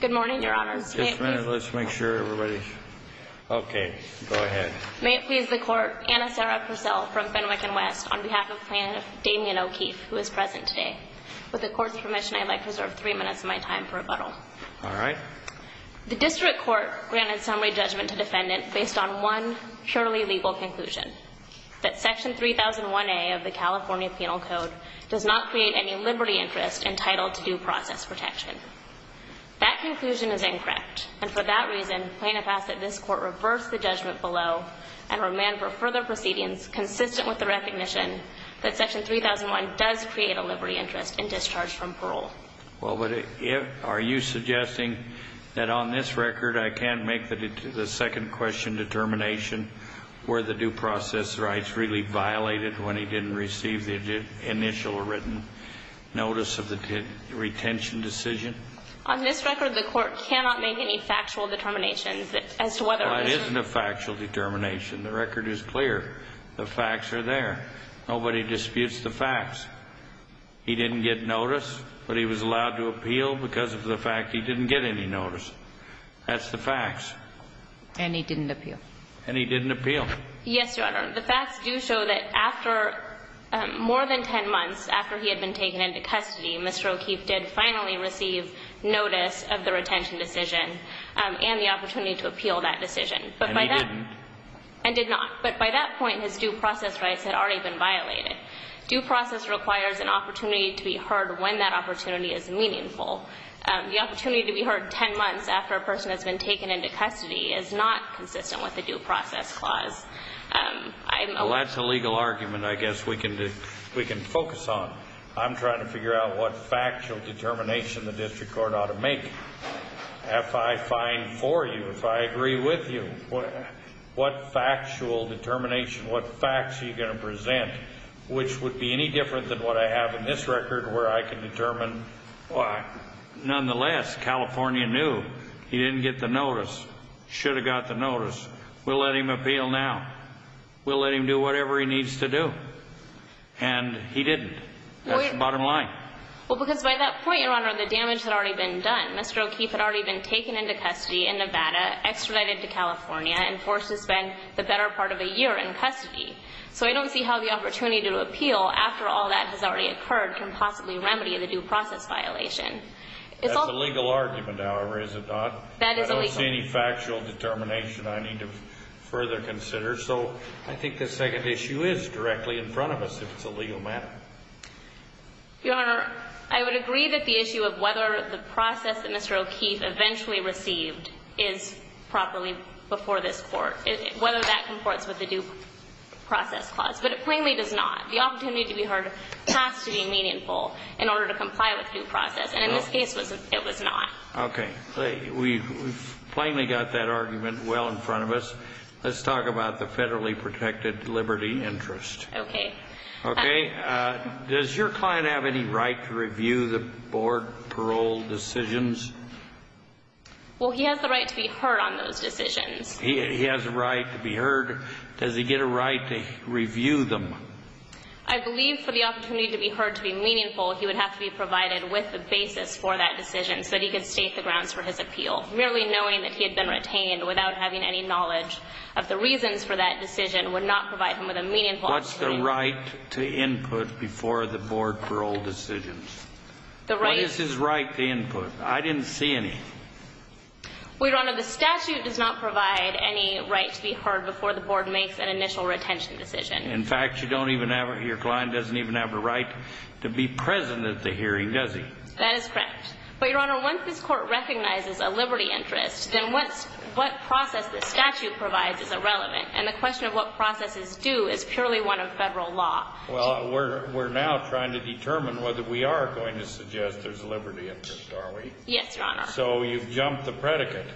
Good morning, Your Honors. Just a minute, let's make sure everybody's... Okay, go ahead. May it please the Court, Anna Sarah Purcell from Fenwick & West, on behalf of Plaintiff Damian O'Keeffe, who is present today. With the Court's permission, I'd like to reserve three minutes of my time for rebuttal. All right. The District Court granted summary judgment to defendant based on one purely legal conclusion, that Section 3001A of the California Penal Code does not create any liberty interest entitled to due process protection. That conclusion is incorrect. And for that reason, plaintiff asks that this Court reverse the judgment below and remand for further proceedings consistent with the recognition that Section 3001 does create a liberty interest in discharge from parole. Well, but are you suggesting that on this record I can't make the second question determination where the due process rights really violated when he didn't receive the initial written notice of the retention decision? On this record, the Court cannot make any factual determinations as to whether or not... Well, it isn't a factual determination. The record is clear. The facts are there. Nobody disputes the facts. He didn't get notice, but he was allowed to appeal because of the fact he didn't get any notice. That's the facts. And he didn't appeal. And he didn't appeal. Yes, Your Honor. The facts do show that after more than ten months, after he had been taken into custody, Mr. O'Keefe did finally receive notice of the retention decision and the opportunity to appeal that decision. And he didn't? And did not. But by that point, his due process rights had already been violated. Due process requires an opportunity to be heard when that opportunity is meaningful. The opportunity to be heard ten months after a person has been taken into custody is not consistent with the due process clause. Well, that's a legal argument, I guess, we can focus on. I'm trying to figure out what factual determination the district court ought to make. If I find for you, if I agree with you, what factual determination, what facts are you going to present, which would be any different than what I have in this record where I can determine why. Nonetheless, California knew he didn't get the notice. Should have got the notice. We'll let him appeal now. We'll let him do whatever he needs to do. And he didn't. That's the bottom line. Well, because by that point, Your Honor, the damage had already been done. Mr. O'Keefe had already been taken into custody in Nevada, extradited to California, and forced to spend the better part of a year in custody. So I don't see how the opportunity to appeal after all that has already occurred can possibly remedy the due process violation. That's a legal argument, however, is it not? That is a legal argument. I don't see any factual determination I need to further consider. So I think the second issue is directly in front of us, if it's a legal matter. Your Honor, I would agree that the issue of whether the process that Mr. O'Keefe eventually received is properly before this Court, whether that comports with the due process clause. But it plainly does not. The opportunity to be heard has to be meaningful in order to comply with due process. And in this case, it was not. Okay. We've plainly got that argument well in front of us. Let's talk about the federally protected liberty interest. Okay. Okay. Does your client have any right to review the board parole decisions? Well, he has the right to be heard on those decisions. He has a right to be heard. Does he get a right to review them? I believe for the opportunity to be heard to be meaningful, he would have to be provided with the basis for that decision so that he could state the grounds for his appeal, merely knowing that he had been retained without having any knowledge of the reasons for that decision would not provide him with a meaningful opportunity. What's the right to input before the board parole decisions? What is his right to input? I didn't see any. Well, Your Honor, the statute does not provide any right to be heard before the board makes an initial retention decision. In fact, your client doesn't even have a right to be present at the hearing, does he? That is correct. But, Your Honor, once this court recognizes a liberty interest, then what process the statute provides is irrelevant, and the question of what processes do is purely one of federal law. Well, we're now trying to determine whether we are going to suggest there's a liberty interest, are we? Yes, Your Honor. So you've jumped the predicate.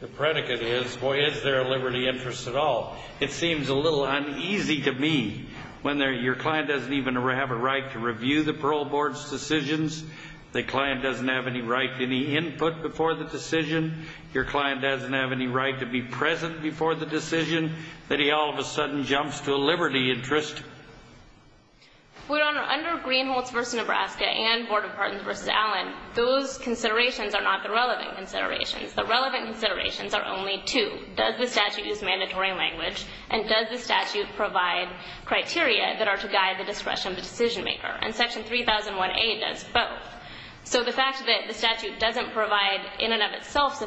The predicate is, boy, is there a liberty interest at all? It seems a little uneasy to me when your client doesn't even have a right to review the parole board's decisions, the client doesn't have any right to any input before the decision, your client doesn't have any right to be present before the decision, that he all of a sudden jumps to a liberty interest. Well, Your Honor, under Greenholtz v. Nebraska and Board of Pardons v. Allen, those considerations are not the relevant considerations. The relevant considerations are only two. Does the statute use mandatory language, and does the statute provide criteria that are to guide the discretion of the decision maker? And Section 3001A does both. So the fact that the statute doesn't provide in and of itself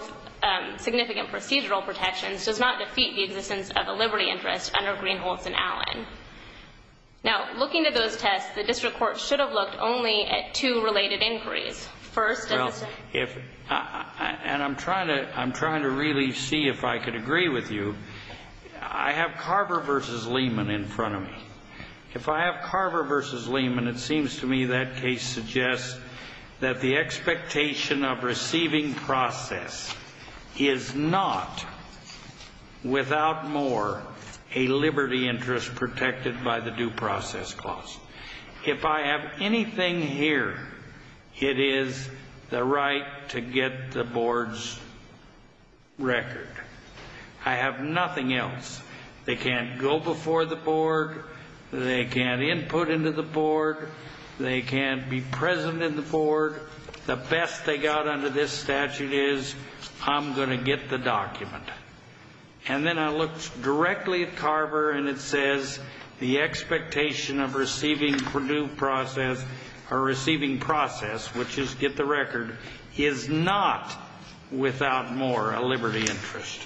significant procedural protections does not defeat the existence of a liberty interest under Greenholtz v. Allen. Now, looking at those tests, the district court should have looked only at two related inquiries. First, does the statute... And I'm trying to really see if I could agree with you. I have Carver v. Lehman in front of me. If I have Carver v. Lehman, it seems to me that case suggests that the expectation of receiving process is not, without more, a liberty interest protected by the due process clause. If I have anything here, it is the right to get the board's record. I have nothing else. They can't go before the board. They can't input into the board. They can't be present in the board. The best they got under this statute is I'm going to get the document. And then I looked directly at Carver, and it says the expectation of receiving due process or receiving process, which is get the record, is not, without more, a liberty interest.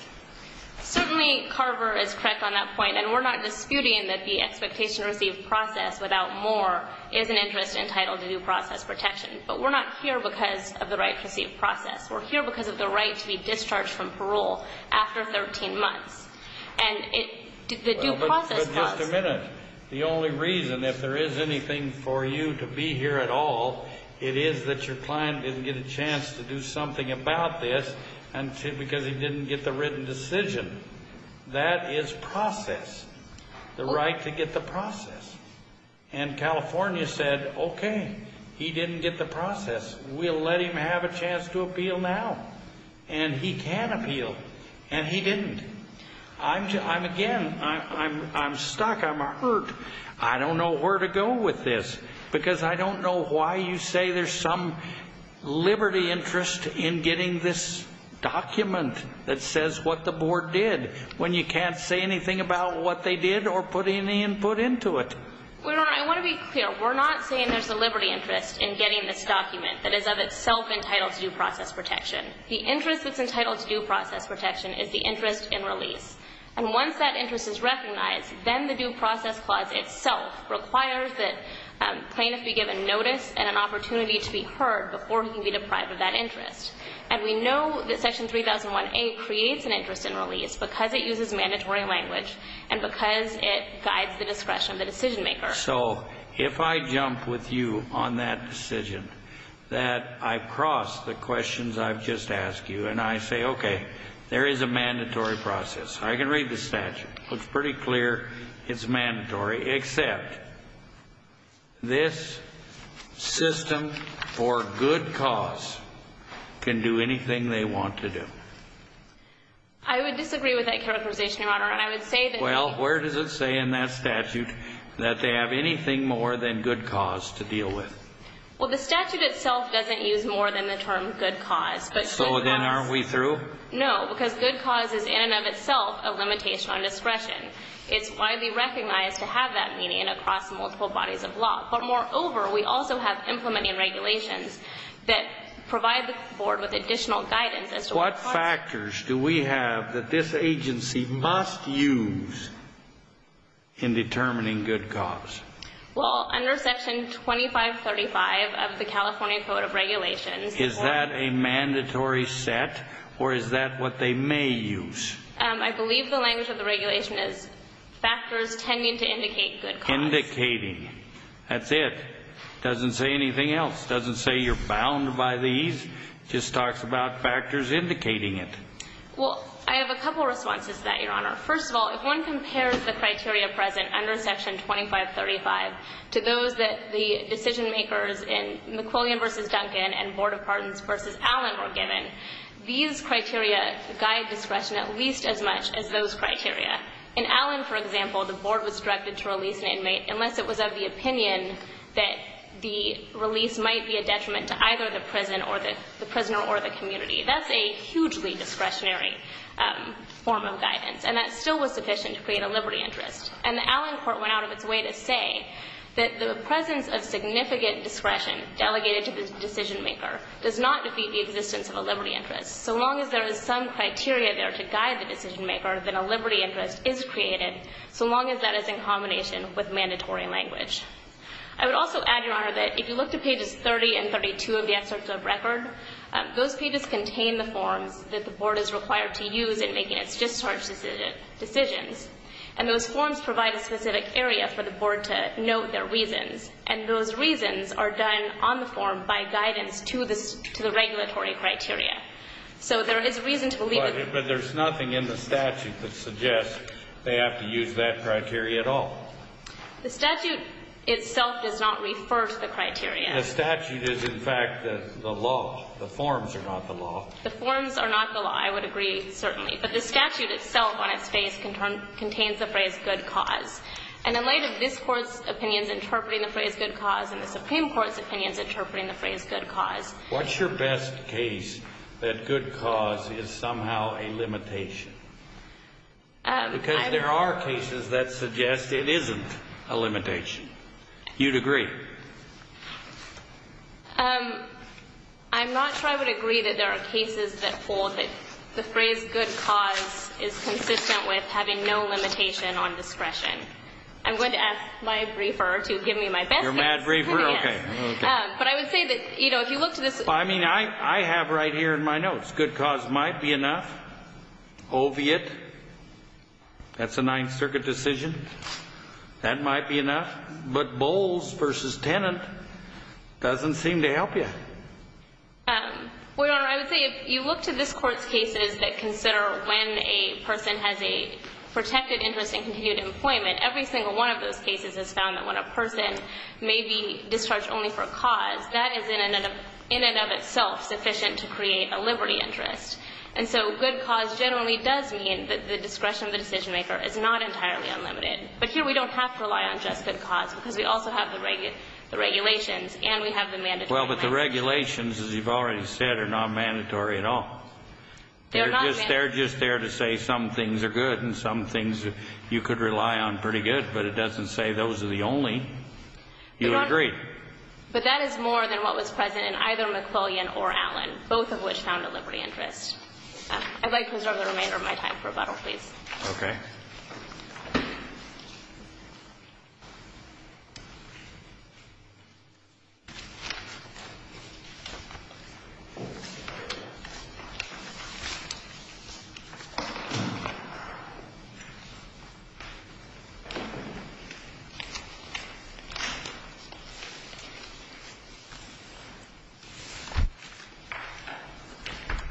Certainly, Carver is correct on that point, and we're not disputing that the expectation of receiving process, without more, is an interest entitled to due process protection. But we're not here because of the right to receive process. We're here because of the right to be discharged from parole after 13 months. And the due process clause... Well, but just a minute. The only reason, if there is anything for you to be here at all, it is that your client didn't get a chance to do something about this because he didn't get the written decision. That is process, the right to get the process. And California said, okay, he didn't get the process. We'll let him have a chance to appeal now. And he can appeal, and he didn't. I'm, again, I'm stuck. I'm hurt. I don't know where to go with this because I don't know why you say there's some liberty interest in getting this document that says what the board did when you can't say anything about what they did or put any input into it. Well, Your Honor, I want to be clear. We're not saying there's a liberty interest in getting this document that is of itself entitled to due process protection. The interest that's entitled to due process protection is the interest in release. And once that interest is recognized, then the due process clause itself requires that plaintiffs be given notice and an opportunity to be heard before he can be deprived of that interest. And we know that Section 3001A creates an interest in release because it uses mandatory language and because it guides the discretion of the decision maker. So if I jump with you on that decision, that I cross the questions I've just asked you, and I say, okay, there is a mandatory process. I can read the statute. It looks pretty clear it's mandatory, except this system for good cause can do anything they want to do. I would disagree with that characterization, Your Honor, and I would say that... Well, where does it say in that statute that they have anything more than good cause to deal with? Well, the statute itself doesn't use more than the term good cause. So then aren't we through? No, because good cause is in and of itself a limitation on discretion. It's widely recognized to have that meaning across multiple bodies of law. But moreover, we also have implementing regulations that provide the Board with additional guidance as to what... What factors do we have that this agency must use in determining good cause? Well, under Section 2535 of the California Code of Regulations... Is that a mandatory set, or is that what they may use? I believe the language of the regulation is factors tending to indicate good cause. Indicating. That's it. It doesn't say anything else. It doesn't say you're bound by these. It just talks about factors indicating it. Well, I have a couple of responses to that, Your Honor. First of all, if one compares the criteria present under Section 2535 to those that the decision makers in McQuillian v. Duncan and Board of Pardons v. Allen were given, these criteria guide discretion at least as much as those criteria. In Allen, for example, the Board was directed to release an inmate unless it was of the opinion that the release might be a detriment to either the prisoner or the community. That's a hugely discretionary form of guidance, and that still was sufficient to create a liberty interest. And the Allen court went out of its way to say that the presence of significant discretion delegated to the decision maker does not defeat the existence of a liberty interest. So long as there is some criteria there to guide the decision maker, then a liberty interest is created, so long as that is in combination with mandatory language. I would also add, Your Honor, that if you look to pages 30 and 32 of the excerpt of record, those pages contain the forms that the Board is required to use in making its discharge decisions. And those forms provide a specific area for the Board to note their reasons, and those reasons are done on the form by guidance to the regulatory criteria. So there is reason to believe that... But there's nothing in the statute that suggests they have to use that criteria at all. The statute itself does not refer to the criteria. The statute is, in fact, the law. The forms are not the law. The forms are not the law. I would agree, certainly. But the statute itself on its face contains the phrase good cause. And in light of this Court's opinions interpreting the phrase good cause and the Supreme Court's opinions interpreting the phrase good cause... What's your best case that good cause is somehow a limitation? Because there are cases that suggest it isn't a limitation. You'd agree? I'm not sure I would agree that there are cases that hold that the phrase good cause is consistent with having no limitation on discretion. I'm going to ask my briefer to give me my best case. Your mad briefer? Yes. Okay. But I would say that, you know, if you look to this... I mean, I have right here in my notes good cause might be enough. Oviatt, that's a Ninth Circuit decision. That might be enough. But Bowles v. Tennant doesn't seem to help you. Well, Your Honor, I would say if you look to this Court's cases that consider when a person has a protected interest in continued employment, every single one of those cases has found that when a person may be discharged only for a cause, that is in and of itself sufficient to create a liberty interest. And so good cause generally does mean that the discretion of the decision-maker is not entirely unlimited. But here we don't have to rely on just good cause because we also have the regulations and we have the mandatory limitations. Well, but the regulations, as you've already said, are not mandatory at all. They're just there to say some things are good and some things you could rely on pretty good. But it doesn't say those are the only. You agree. But that is more than what was present in either McClellan or Allen, both of which found a liberty interest. I'd like to reserve the remainder of my time for rebuttal, please. Okay.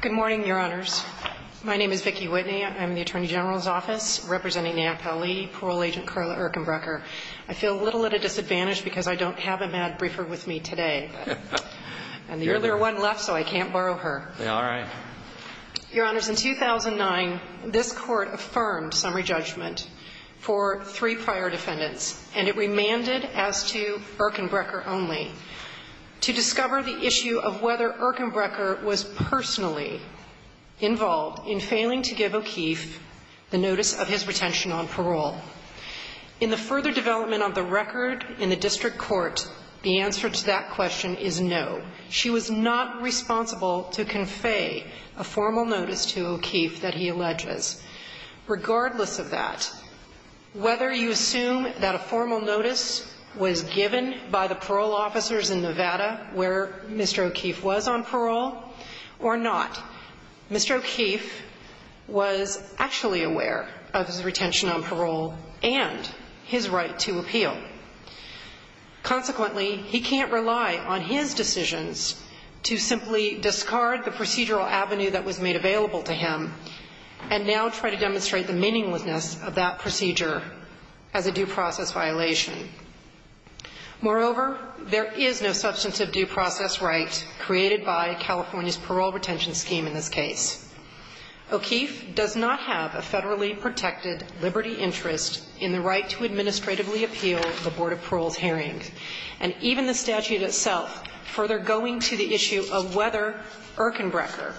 Good morning, Your Honors. My name is Vicki Whitney. I'm in the Attorney General's Office representing NAAP-LE, Parole Agent Carla Erkenbrecher. I feel a little at a disadvantage because I don't have a mad briefer with me today. And the earlier one left, so I can't borrow her. All right. Your Honors, in 2009, this Court affirmed summary judgment for three prior defendants, and it remanded as to Erkenbrecher only. To discover the issue of whether Erkenbrecher was personally involved in failing to give O'Keefe the notice of his retention on parole. In the further development of the record in the district court, the answer to that question is no. She was not responsible to convey a formal notice to O'Keefe that he alleges. Regardless of that, whether you assume that a formal notice was given by the parole officers in Nevada where Mr. O'Keefe was on parole or not, Mr. O'Keefe was actually aware of his retention on parole and his right to appeal. Consequently, he can't rely on his decisions to simply discard the procedural avenue that was made available to him and now try to demonstrate the meaninglessness of that procedure as a due process violation. Moreover, there is no substantive due process right created by California's claim in this case. O'Keefe does not have a federally protected liberty interest in the right to administratively appeal the Board of Parole's hearing. And even the statute itself, further going to the issue of whether Erkenbrecher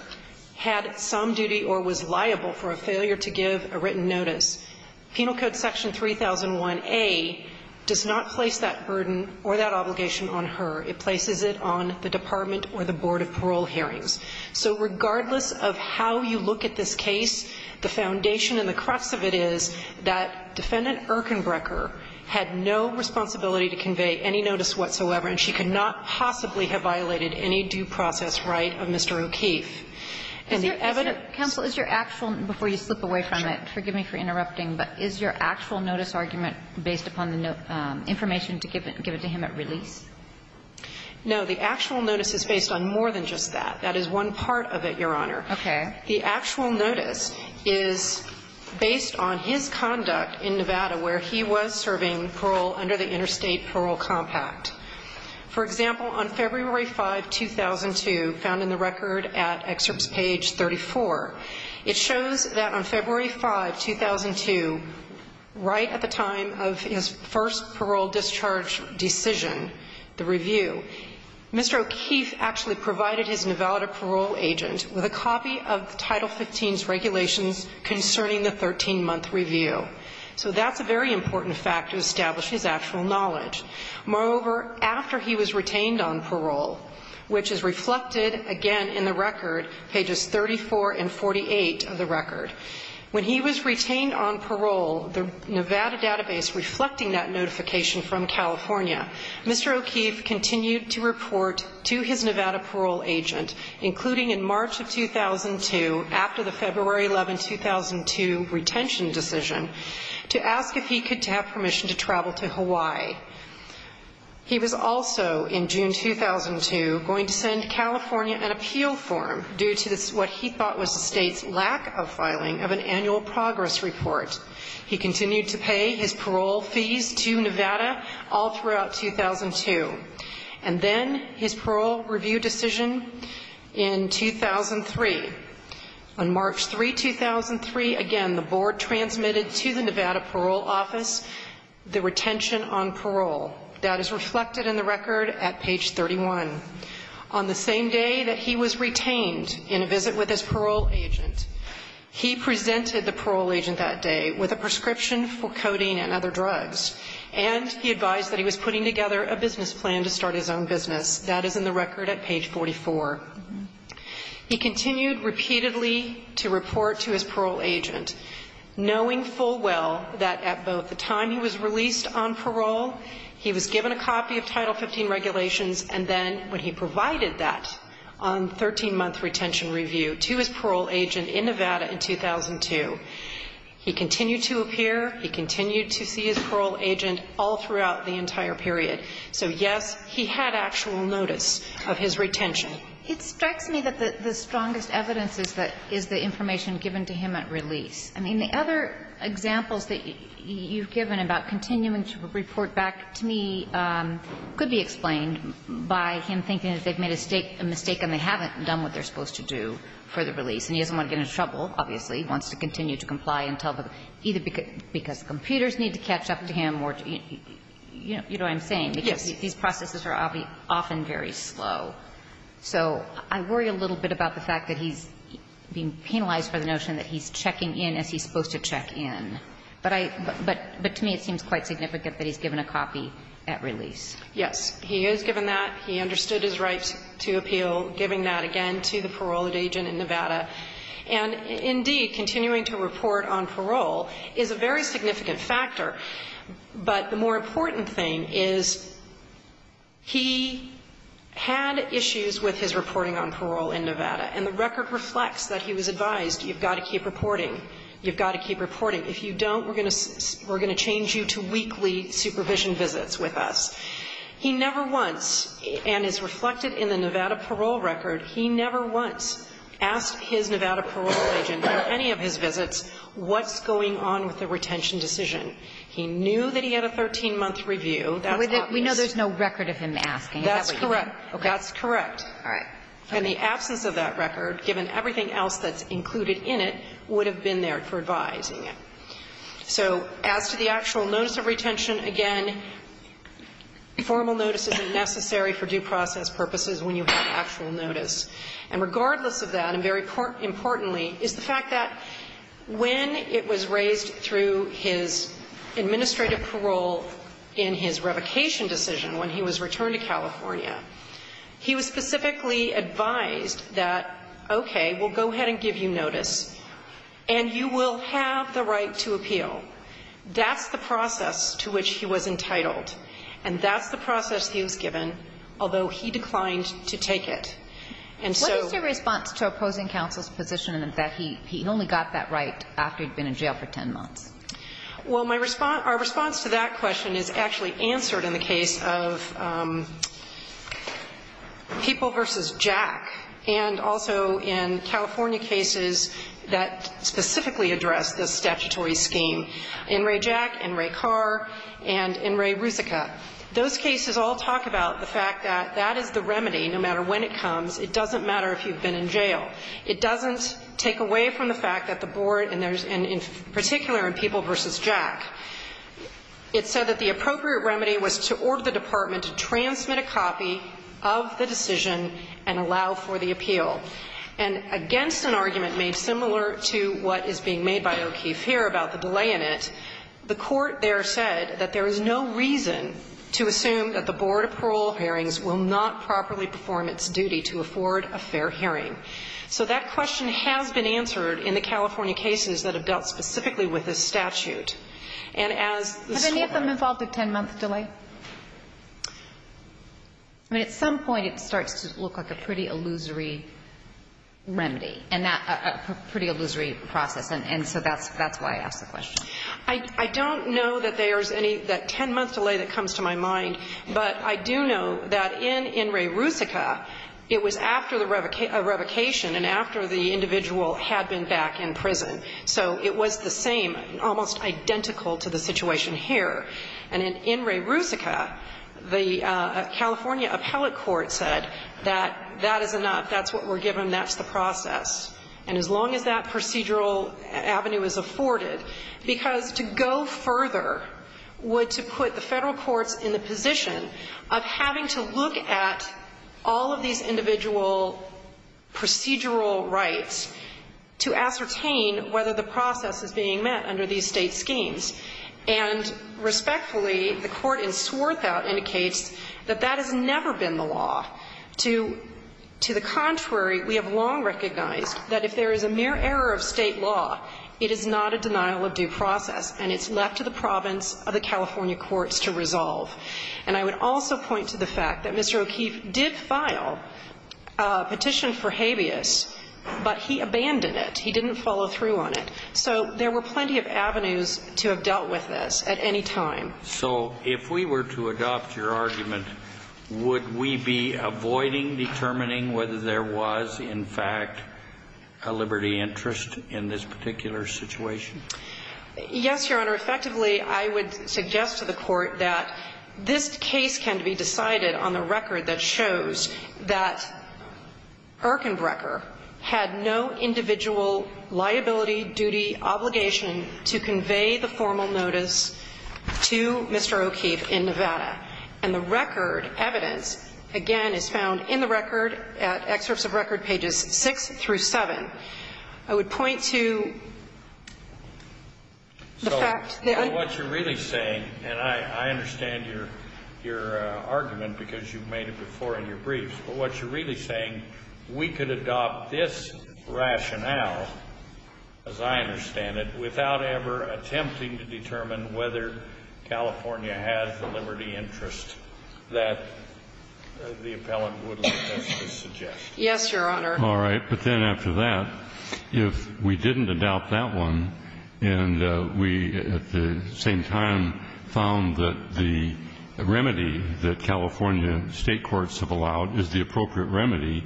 had some duty or was liable for a failure to give a written notice, Penal Code Section 3001A does not place that burden or that obligation on her. It places it on the department or the Board of Parole hearings. So regardless of how you look at this case, the foundation and the crux of it is that Defendant Erkenbrecher had no responsibility to convey any notice whatsoever, and she could not possibly have violated any due process right of Mr. O'Keefe. And the evidence of that is not clear. Kagan. Kagan. That is one part of it, Your Honor. Okay. The actual notice is based on his conduct in Nevada where he was serving parole under the Interstate Parole Compact. For example, on February 5, 2002, found in the record at excerpts page 34, it shows that on February 5, 2002, right at the time of his first parole discharge decision, the review, Mr. O'Keefe actually provided his Nevada parole agent with a copy of Title 15's regulations concerning the 13-month review. So that's a very important fact to establish his actual knowledge. Moreover, after he was retained on parole, which is reflected, again, in the record, pages 34 and 48 of the record, when he was retained on parole, the Nevada database reflecting that notification from California, Mr. O'Keefe continued to report to his Nevada parole agent, including in March of 2002, after the February 11, 2002, retention decision, to ask if he could have permission to travel to Hawaii. He was also in June 2002 going to send California an appeal form due to what he thought was the State's lack of filing of an annual progress report. He continued to pay his parole fees to Nevada all throughout 2002. And then his parole review decision in 2003. On March 3, 2003, again, the board transmitted to the Nevada parole office the retention on parole. That is reflected in the record at page 31. On the same day that he was retained in a visit with his parole agent, he presented the state with a prescription for codeine and other drugs. And he advised that he was putting together a business plan to start his own business. That is in the record at page 44. He continued repeatedly to report to his parole agent, knowing full well that at both the time he was released on parole, he was given a copy of Title 15 regulations, and then when he provided that on 13-month retention review to his parole agent in Nevada in He continued to see his parole agent all throughout the entire period. So, yes, he had actual notice of his retention. It strikes me that the strongest evidence is the information given to him at release. I mean, the other examples that you've given about continuing to report back to me could be explained by him thinking that they've made a mistake and they haven't done what they're supposed to do for the release. And he doesn't want to get into trouble, obviously. He wants to continue to comply until the end, either because computers need to catch up to him or, you know what I'm saying. Yes. Because these processes are often very slow. So I worry a little bit about the fact that he's being penalized for the notion that he's checking in as he's supposed to check in. But to me, it seems quite significant that he's given a copy at release. Yes. He has given that. He understood his right to appeal, giving that again to the parole agent in Nevada. And, indeed, continuing to report on parole is a very significant factor. But the more important thing is he had issues with his reporting on parole in Nevada. And the record reflects that he was advised, you've got to keep reporting. You've got to keep reporting. If you don't, we're going to change you to weekly supervision visits with us. He never once, and is reflected in the Nevada parole record, he never once asked his Nevada parole agent on any of his visits what's going on with the retention decision. He knew that he had a 13-month review. That's obvious. We know there's no record of him asking. Is that what you mean? That's correct. Okay. That's correct. All right. And the absence of that record, given everything else that's included in it, would have been there for advising him. So, as to the actual notice of retention, again, formal notice isn't necessary for due process purposes when you have actual notice. And regardless of that, and very importantly, is the fact that when it was raised through his administrative parole in his revocation decision when he was returned to California, he was specifically advised that, okay, we'll go ahead and give you this. You'll have the right to appeal. That's the process to which he was entitled. And that's the process he was given, although he declined to take it. What is your response to opposing counsel's position that he only got that right after he'd been in jail for 10 months? Well, our response to that question is actually answered in the case of people v. Jack, and also in California cases that specifically address this statutory scheme. N. Ray Jack, N. Ray Carr, and N. Ray Rusica. Those cases all talk about the fact that that is the remedy no matter when it comes. It doesn't matter if you've been in jail. It doesn't take away from the fact that the Board, and in particular in people v. Jack, it said that the appropriate remedy was to order the Department to transmit a copy of the decision and allow for the appeal. And against an argument made similar to what is being made by O'Keefe here about the delay in it, the Court there said that there is no reason to assume that the Board of Parole Hearings will not properly perform its duty to afford a fair hearing. So that question has been answered in the California cases that have dealt specifically with this statute. And as the scorecard ---- Have any of them involved a 10-month delay? I mean, at some point it starts to look like a pretty illusory remedy and a pretty illusory process. And so that's why I asked the question. I don't know that there's any ---- that 10-month delay that comes to my mind. But I do know that in N. Ray Rusica, it was after the revocation and after the individual had been back in prison. So it was the same, almost identical to the situation here. And in N. Ray Rusica, the California appellate court said that that is enough, that's what we're given, that's the process. And as long as that procedural avenue is afforded, because to go further would to put the Federal courts in the position of having to look at all of these individual procedural rights to ascertain whether the process is being met under these State schemes. And respectfully, the Court in Swarthout indicates that that has never been the law. To the contrary, we have long recognized that if there is a mere error of State law, it is not a denial of due process and it's left to the province of the California courts to resolve. And I would also point to the fact that Mr. O'Keefe did file a petition for habeas, but he abandoned it. He didn't follow through on it. So there were plenty of avenues to have dealt with this at any time. So if we were to adopt your argument, would we be avoiding determining whether there was, in fact, a liberty interest in this particular situation? Yes, Your Honor. Effectively, I would suggest to the Court that this case can be decided on the record that shows that Erkenbrecher had no individual liability, duty, obligation to convey the formal notice to Mr. O'Keefe in Nevada. And the record evidence, again, is found in the record at Excerpts of Record pages 6 through 7. I would point to the fact that I'm going to go back to Mr. O'Keefe. But what you're really saying, we could adopt this rationale, as I understand it, without ever attempting to determine whether California had the liberty interest that the appellant would suggest. Yes, Your Honor. All right. But then after that, if we didn't adopt that one, and we at the same time found that the remedy that California State courts have allowed is the appropriate remedy,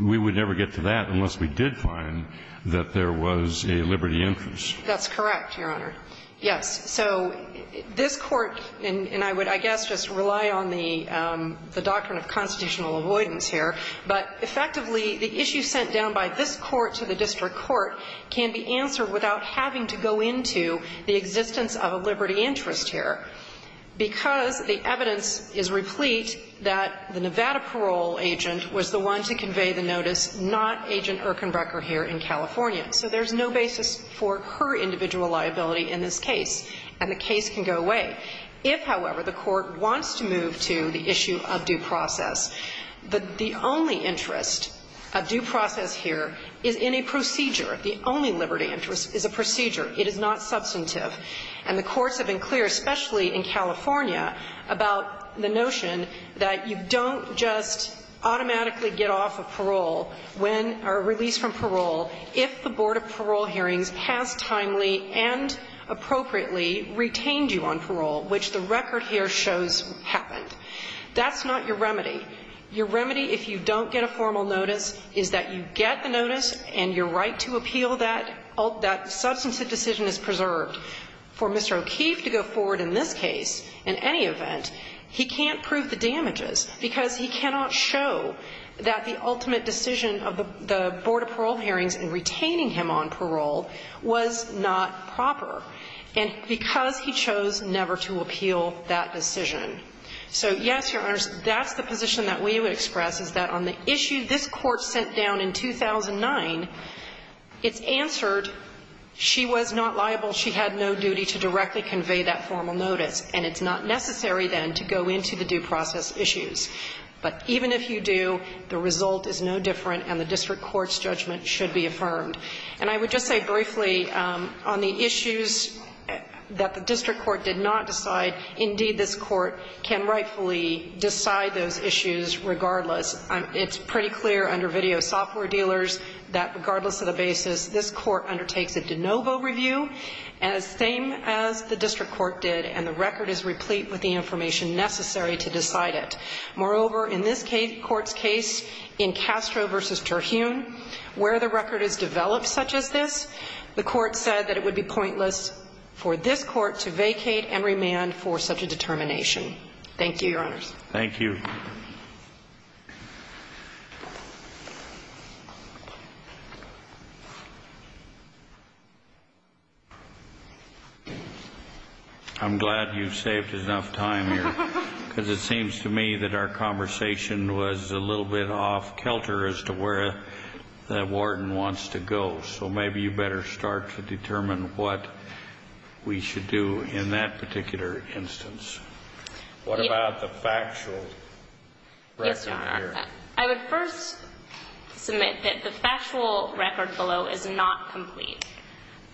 we would never get to that unless we did find that there was a liberty interest. That's correct, Your Honor. Yes. So this Court, and I would, I guess, just rely on the doctrine of constitutional avoidance here, but effectively, the issue sent down by this Court to the district court can be answered without having to go into the existence of a liberty interest here, because the evidence is replete that the Nevada parole agent was the one to convey the notice, not Agent Urkenbrecher here in California. So there's no basis for her individual liability in this case. And the case can go away. If, however, the Court wants to move to the issue of due process, the only interest of due process here is in a procedure. The only liberty interest is a procedure. It is not substantive. And the courts have been clear, especially in California, about the notion that you don't just automatically get off of parole when or release from parole if the Board of Parole Hearings has timely and appropriately retained you on parole, which the record here shows happened. That's not your remedy. Your remedy, if you don't get a formal notice, is that you get the notice and your right to appeal that substantive decision is preserved. For Mr. O'Keefe to go forward in this case, in any event, he can't prove the damages because he cannot show that the ultimate decision of the Board of Parole Hearings in retaining him on parole was not proper. And because he chose never to appeal that decision. So, yes, Your Honors, that's the position that we would express, is that on the issue this Court sent down in 2009, it's answered, she was not liable, she had no duty to directly convey that formal notice. And it's not necessary, then, to go into the due process issues. But even if you do, the result is no different and the district court's judgment should be affirmed. And I would just say briefly, on the issues that the district court did not decide, indeed, this Court can rightfully decide those issues regardless. It's pretty clear under video software dealers that regardless of the basis, this Court undertakes a de novo review, as same as the district court did, and the record is replete with the information necessary to decide it. Moreover, in this Court's case, in Castro v. Terhune, where the record is developed such as this, the Court said that it would be pointless for this Court to vacate and remand for such a determination. Thank you, Your Honors. Thank you. I'm glad you've saved enough time here, because it seems to me that our conversation was a little bit off-kelter as to where the warden wants to go. So maybe you better start to determine what we should do in that particular instance. What about the factual record here? Yes, Your Honor. I would first submit that the factual record below is not complete.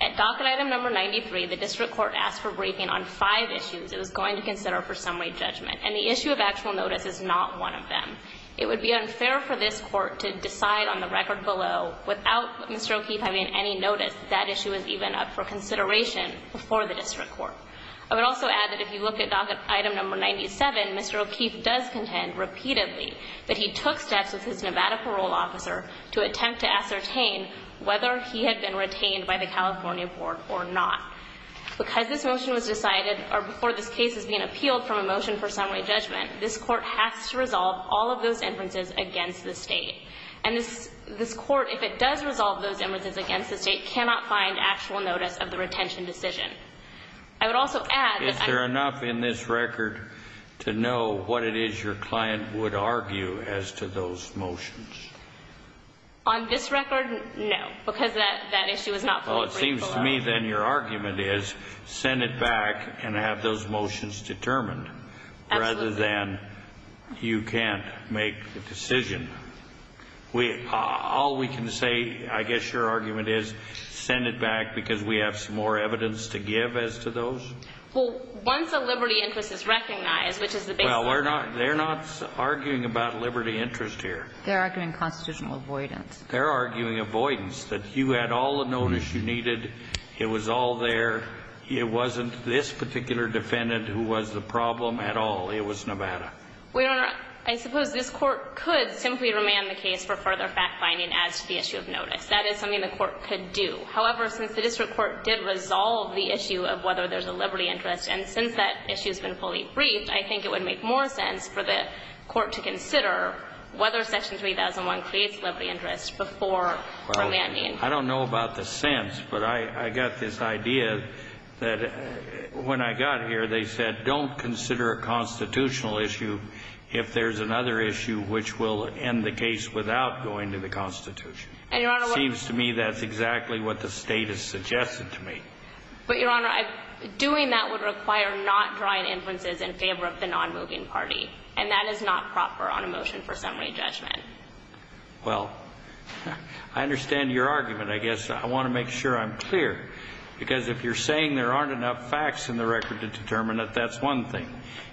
At docket item number 93, the district court asked for briefing on five issues it was going to consider for summary judgment, and the issue of actual notice is not one of them. It would be unfair for this Court to decide on the record below without Mr. O'Keefe having any notice that that issue was even up for consideration before the district court. I would also add that if you look at docket item number 97, Mr. O'Keefe does contend repeatedly that he took steps with his Nevada parole officer to attempt to ascertain whether he had been retained by the California Board or not. Because this motion was decided before this case is being appealed from a motion for summary judgment, this Court has to resolve all of those inferences against the State. And this Court, if it does resolve those inferences against the State, cannot find actual notice of the retention decision. I would also add that I do not think that Mr. O'Keefe had any notice of the retention decision. Is there enough in this record to know what it is your client would argue as to those motions? On this record, no, because that issue is not fully briefed below. Well, it seems to me then your argument is send it back and have those motions determined rather than you can't make the decision. All we can say, I guess, your argument is send it back because we have some more evidence to give as to those. Well, once a liberty interest is recognized, which is the basis of liberty interest. Well, they're not arguing about liberty interest here. They're arguing constitutional avoidance. They're arguing avoidance, that you had all the notice you needed. It was all there. It wasn't this particular defendant who was the problem at all. It was Nevada. Well, Your Honor, I suppose this court could simply remand the case for further fact-finding as to the issue of notice. That is something the court could do. However, since the district court did resolve the issue of whether there's a liberty interest, and since that issue has been fully briefed, I think it would make more sense for the court to consider whether Section 3001 creates liberty interest before remanding. I don't know about the sense, but I got this idea that when I got here, they said I don't consider a constitutional issue if there's another issue which will end the case without going to the Constitution. It seems to me that's exactly what the State has suggested to me. But, Your Honor, doing that would require not drawing inferences in favor of the non-moving party, and that is not proper on a motion for summary judgment. Well, I understand your argument, I guess. I want to make sure I'm clear, because if you're saying there aren't enough facts in the record to determine it, that's one thing.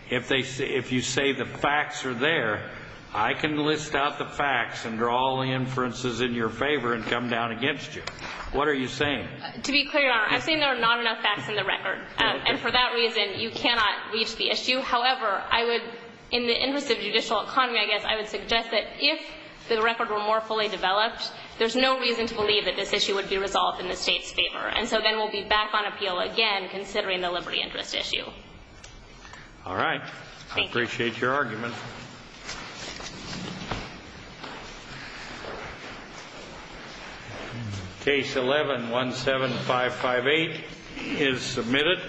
If you say the facts are there, I can list out the facts and draw all the inferences in your favor and come down against you. What are you saying? To be clear, Your Honor, I'm saying there are not enough facts in the record, and for that reason, you cannot reach the issue. However, I would, in the interest of judicial economy, I guess, I would suggest that if the record were more fully developed, there's no reason to believe that this issue would be resolved in the State's favor. And so then we'll be back on appeal again, considering the liberty interest issue. All right. Thank you. I appreciate your argument. Case 11-17558 is submitted.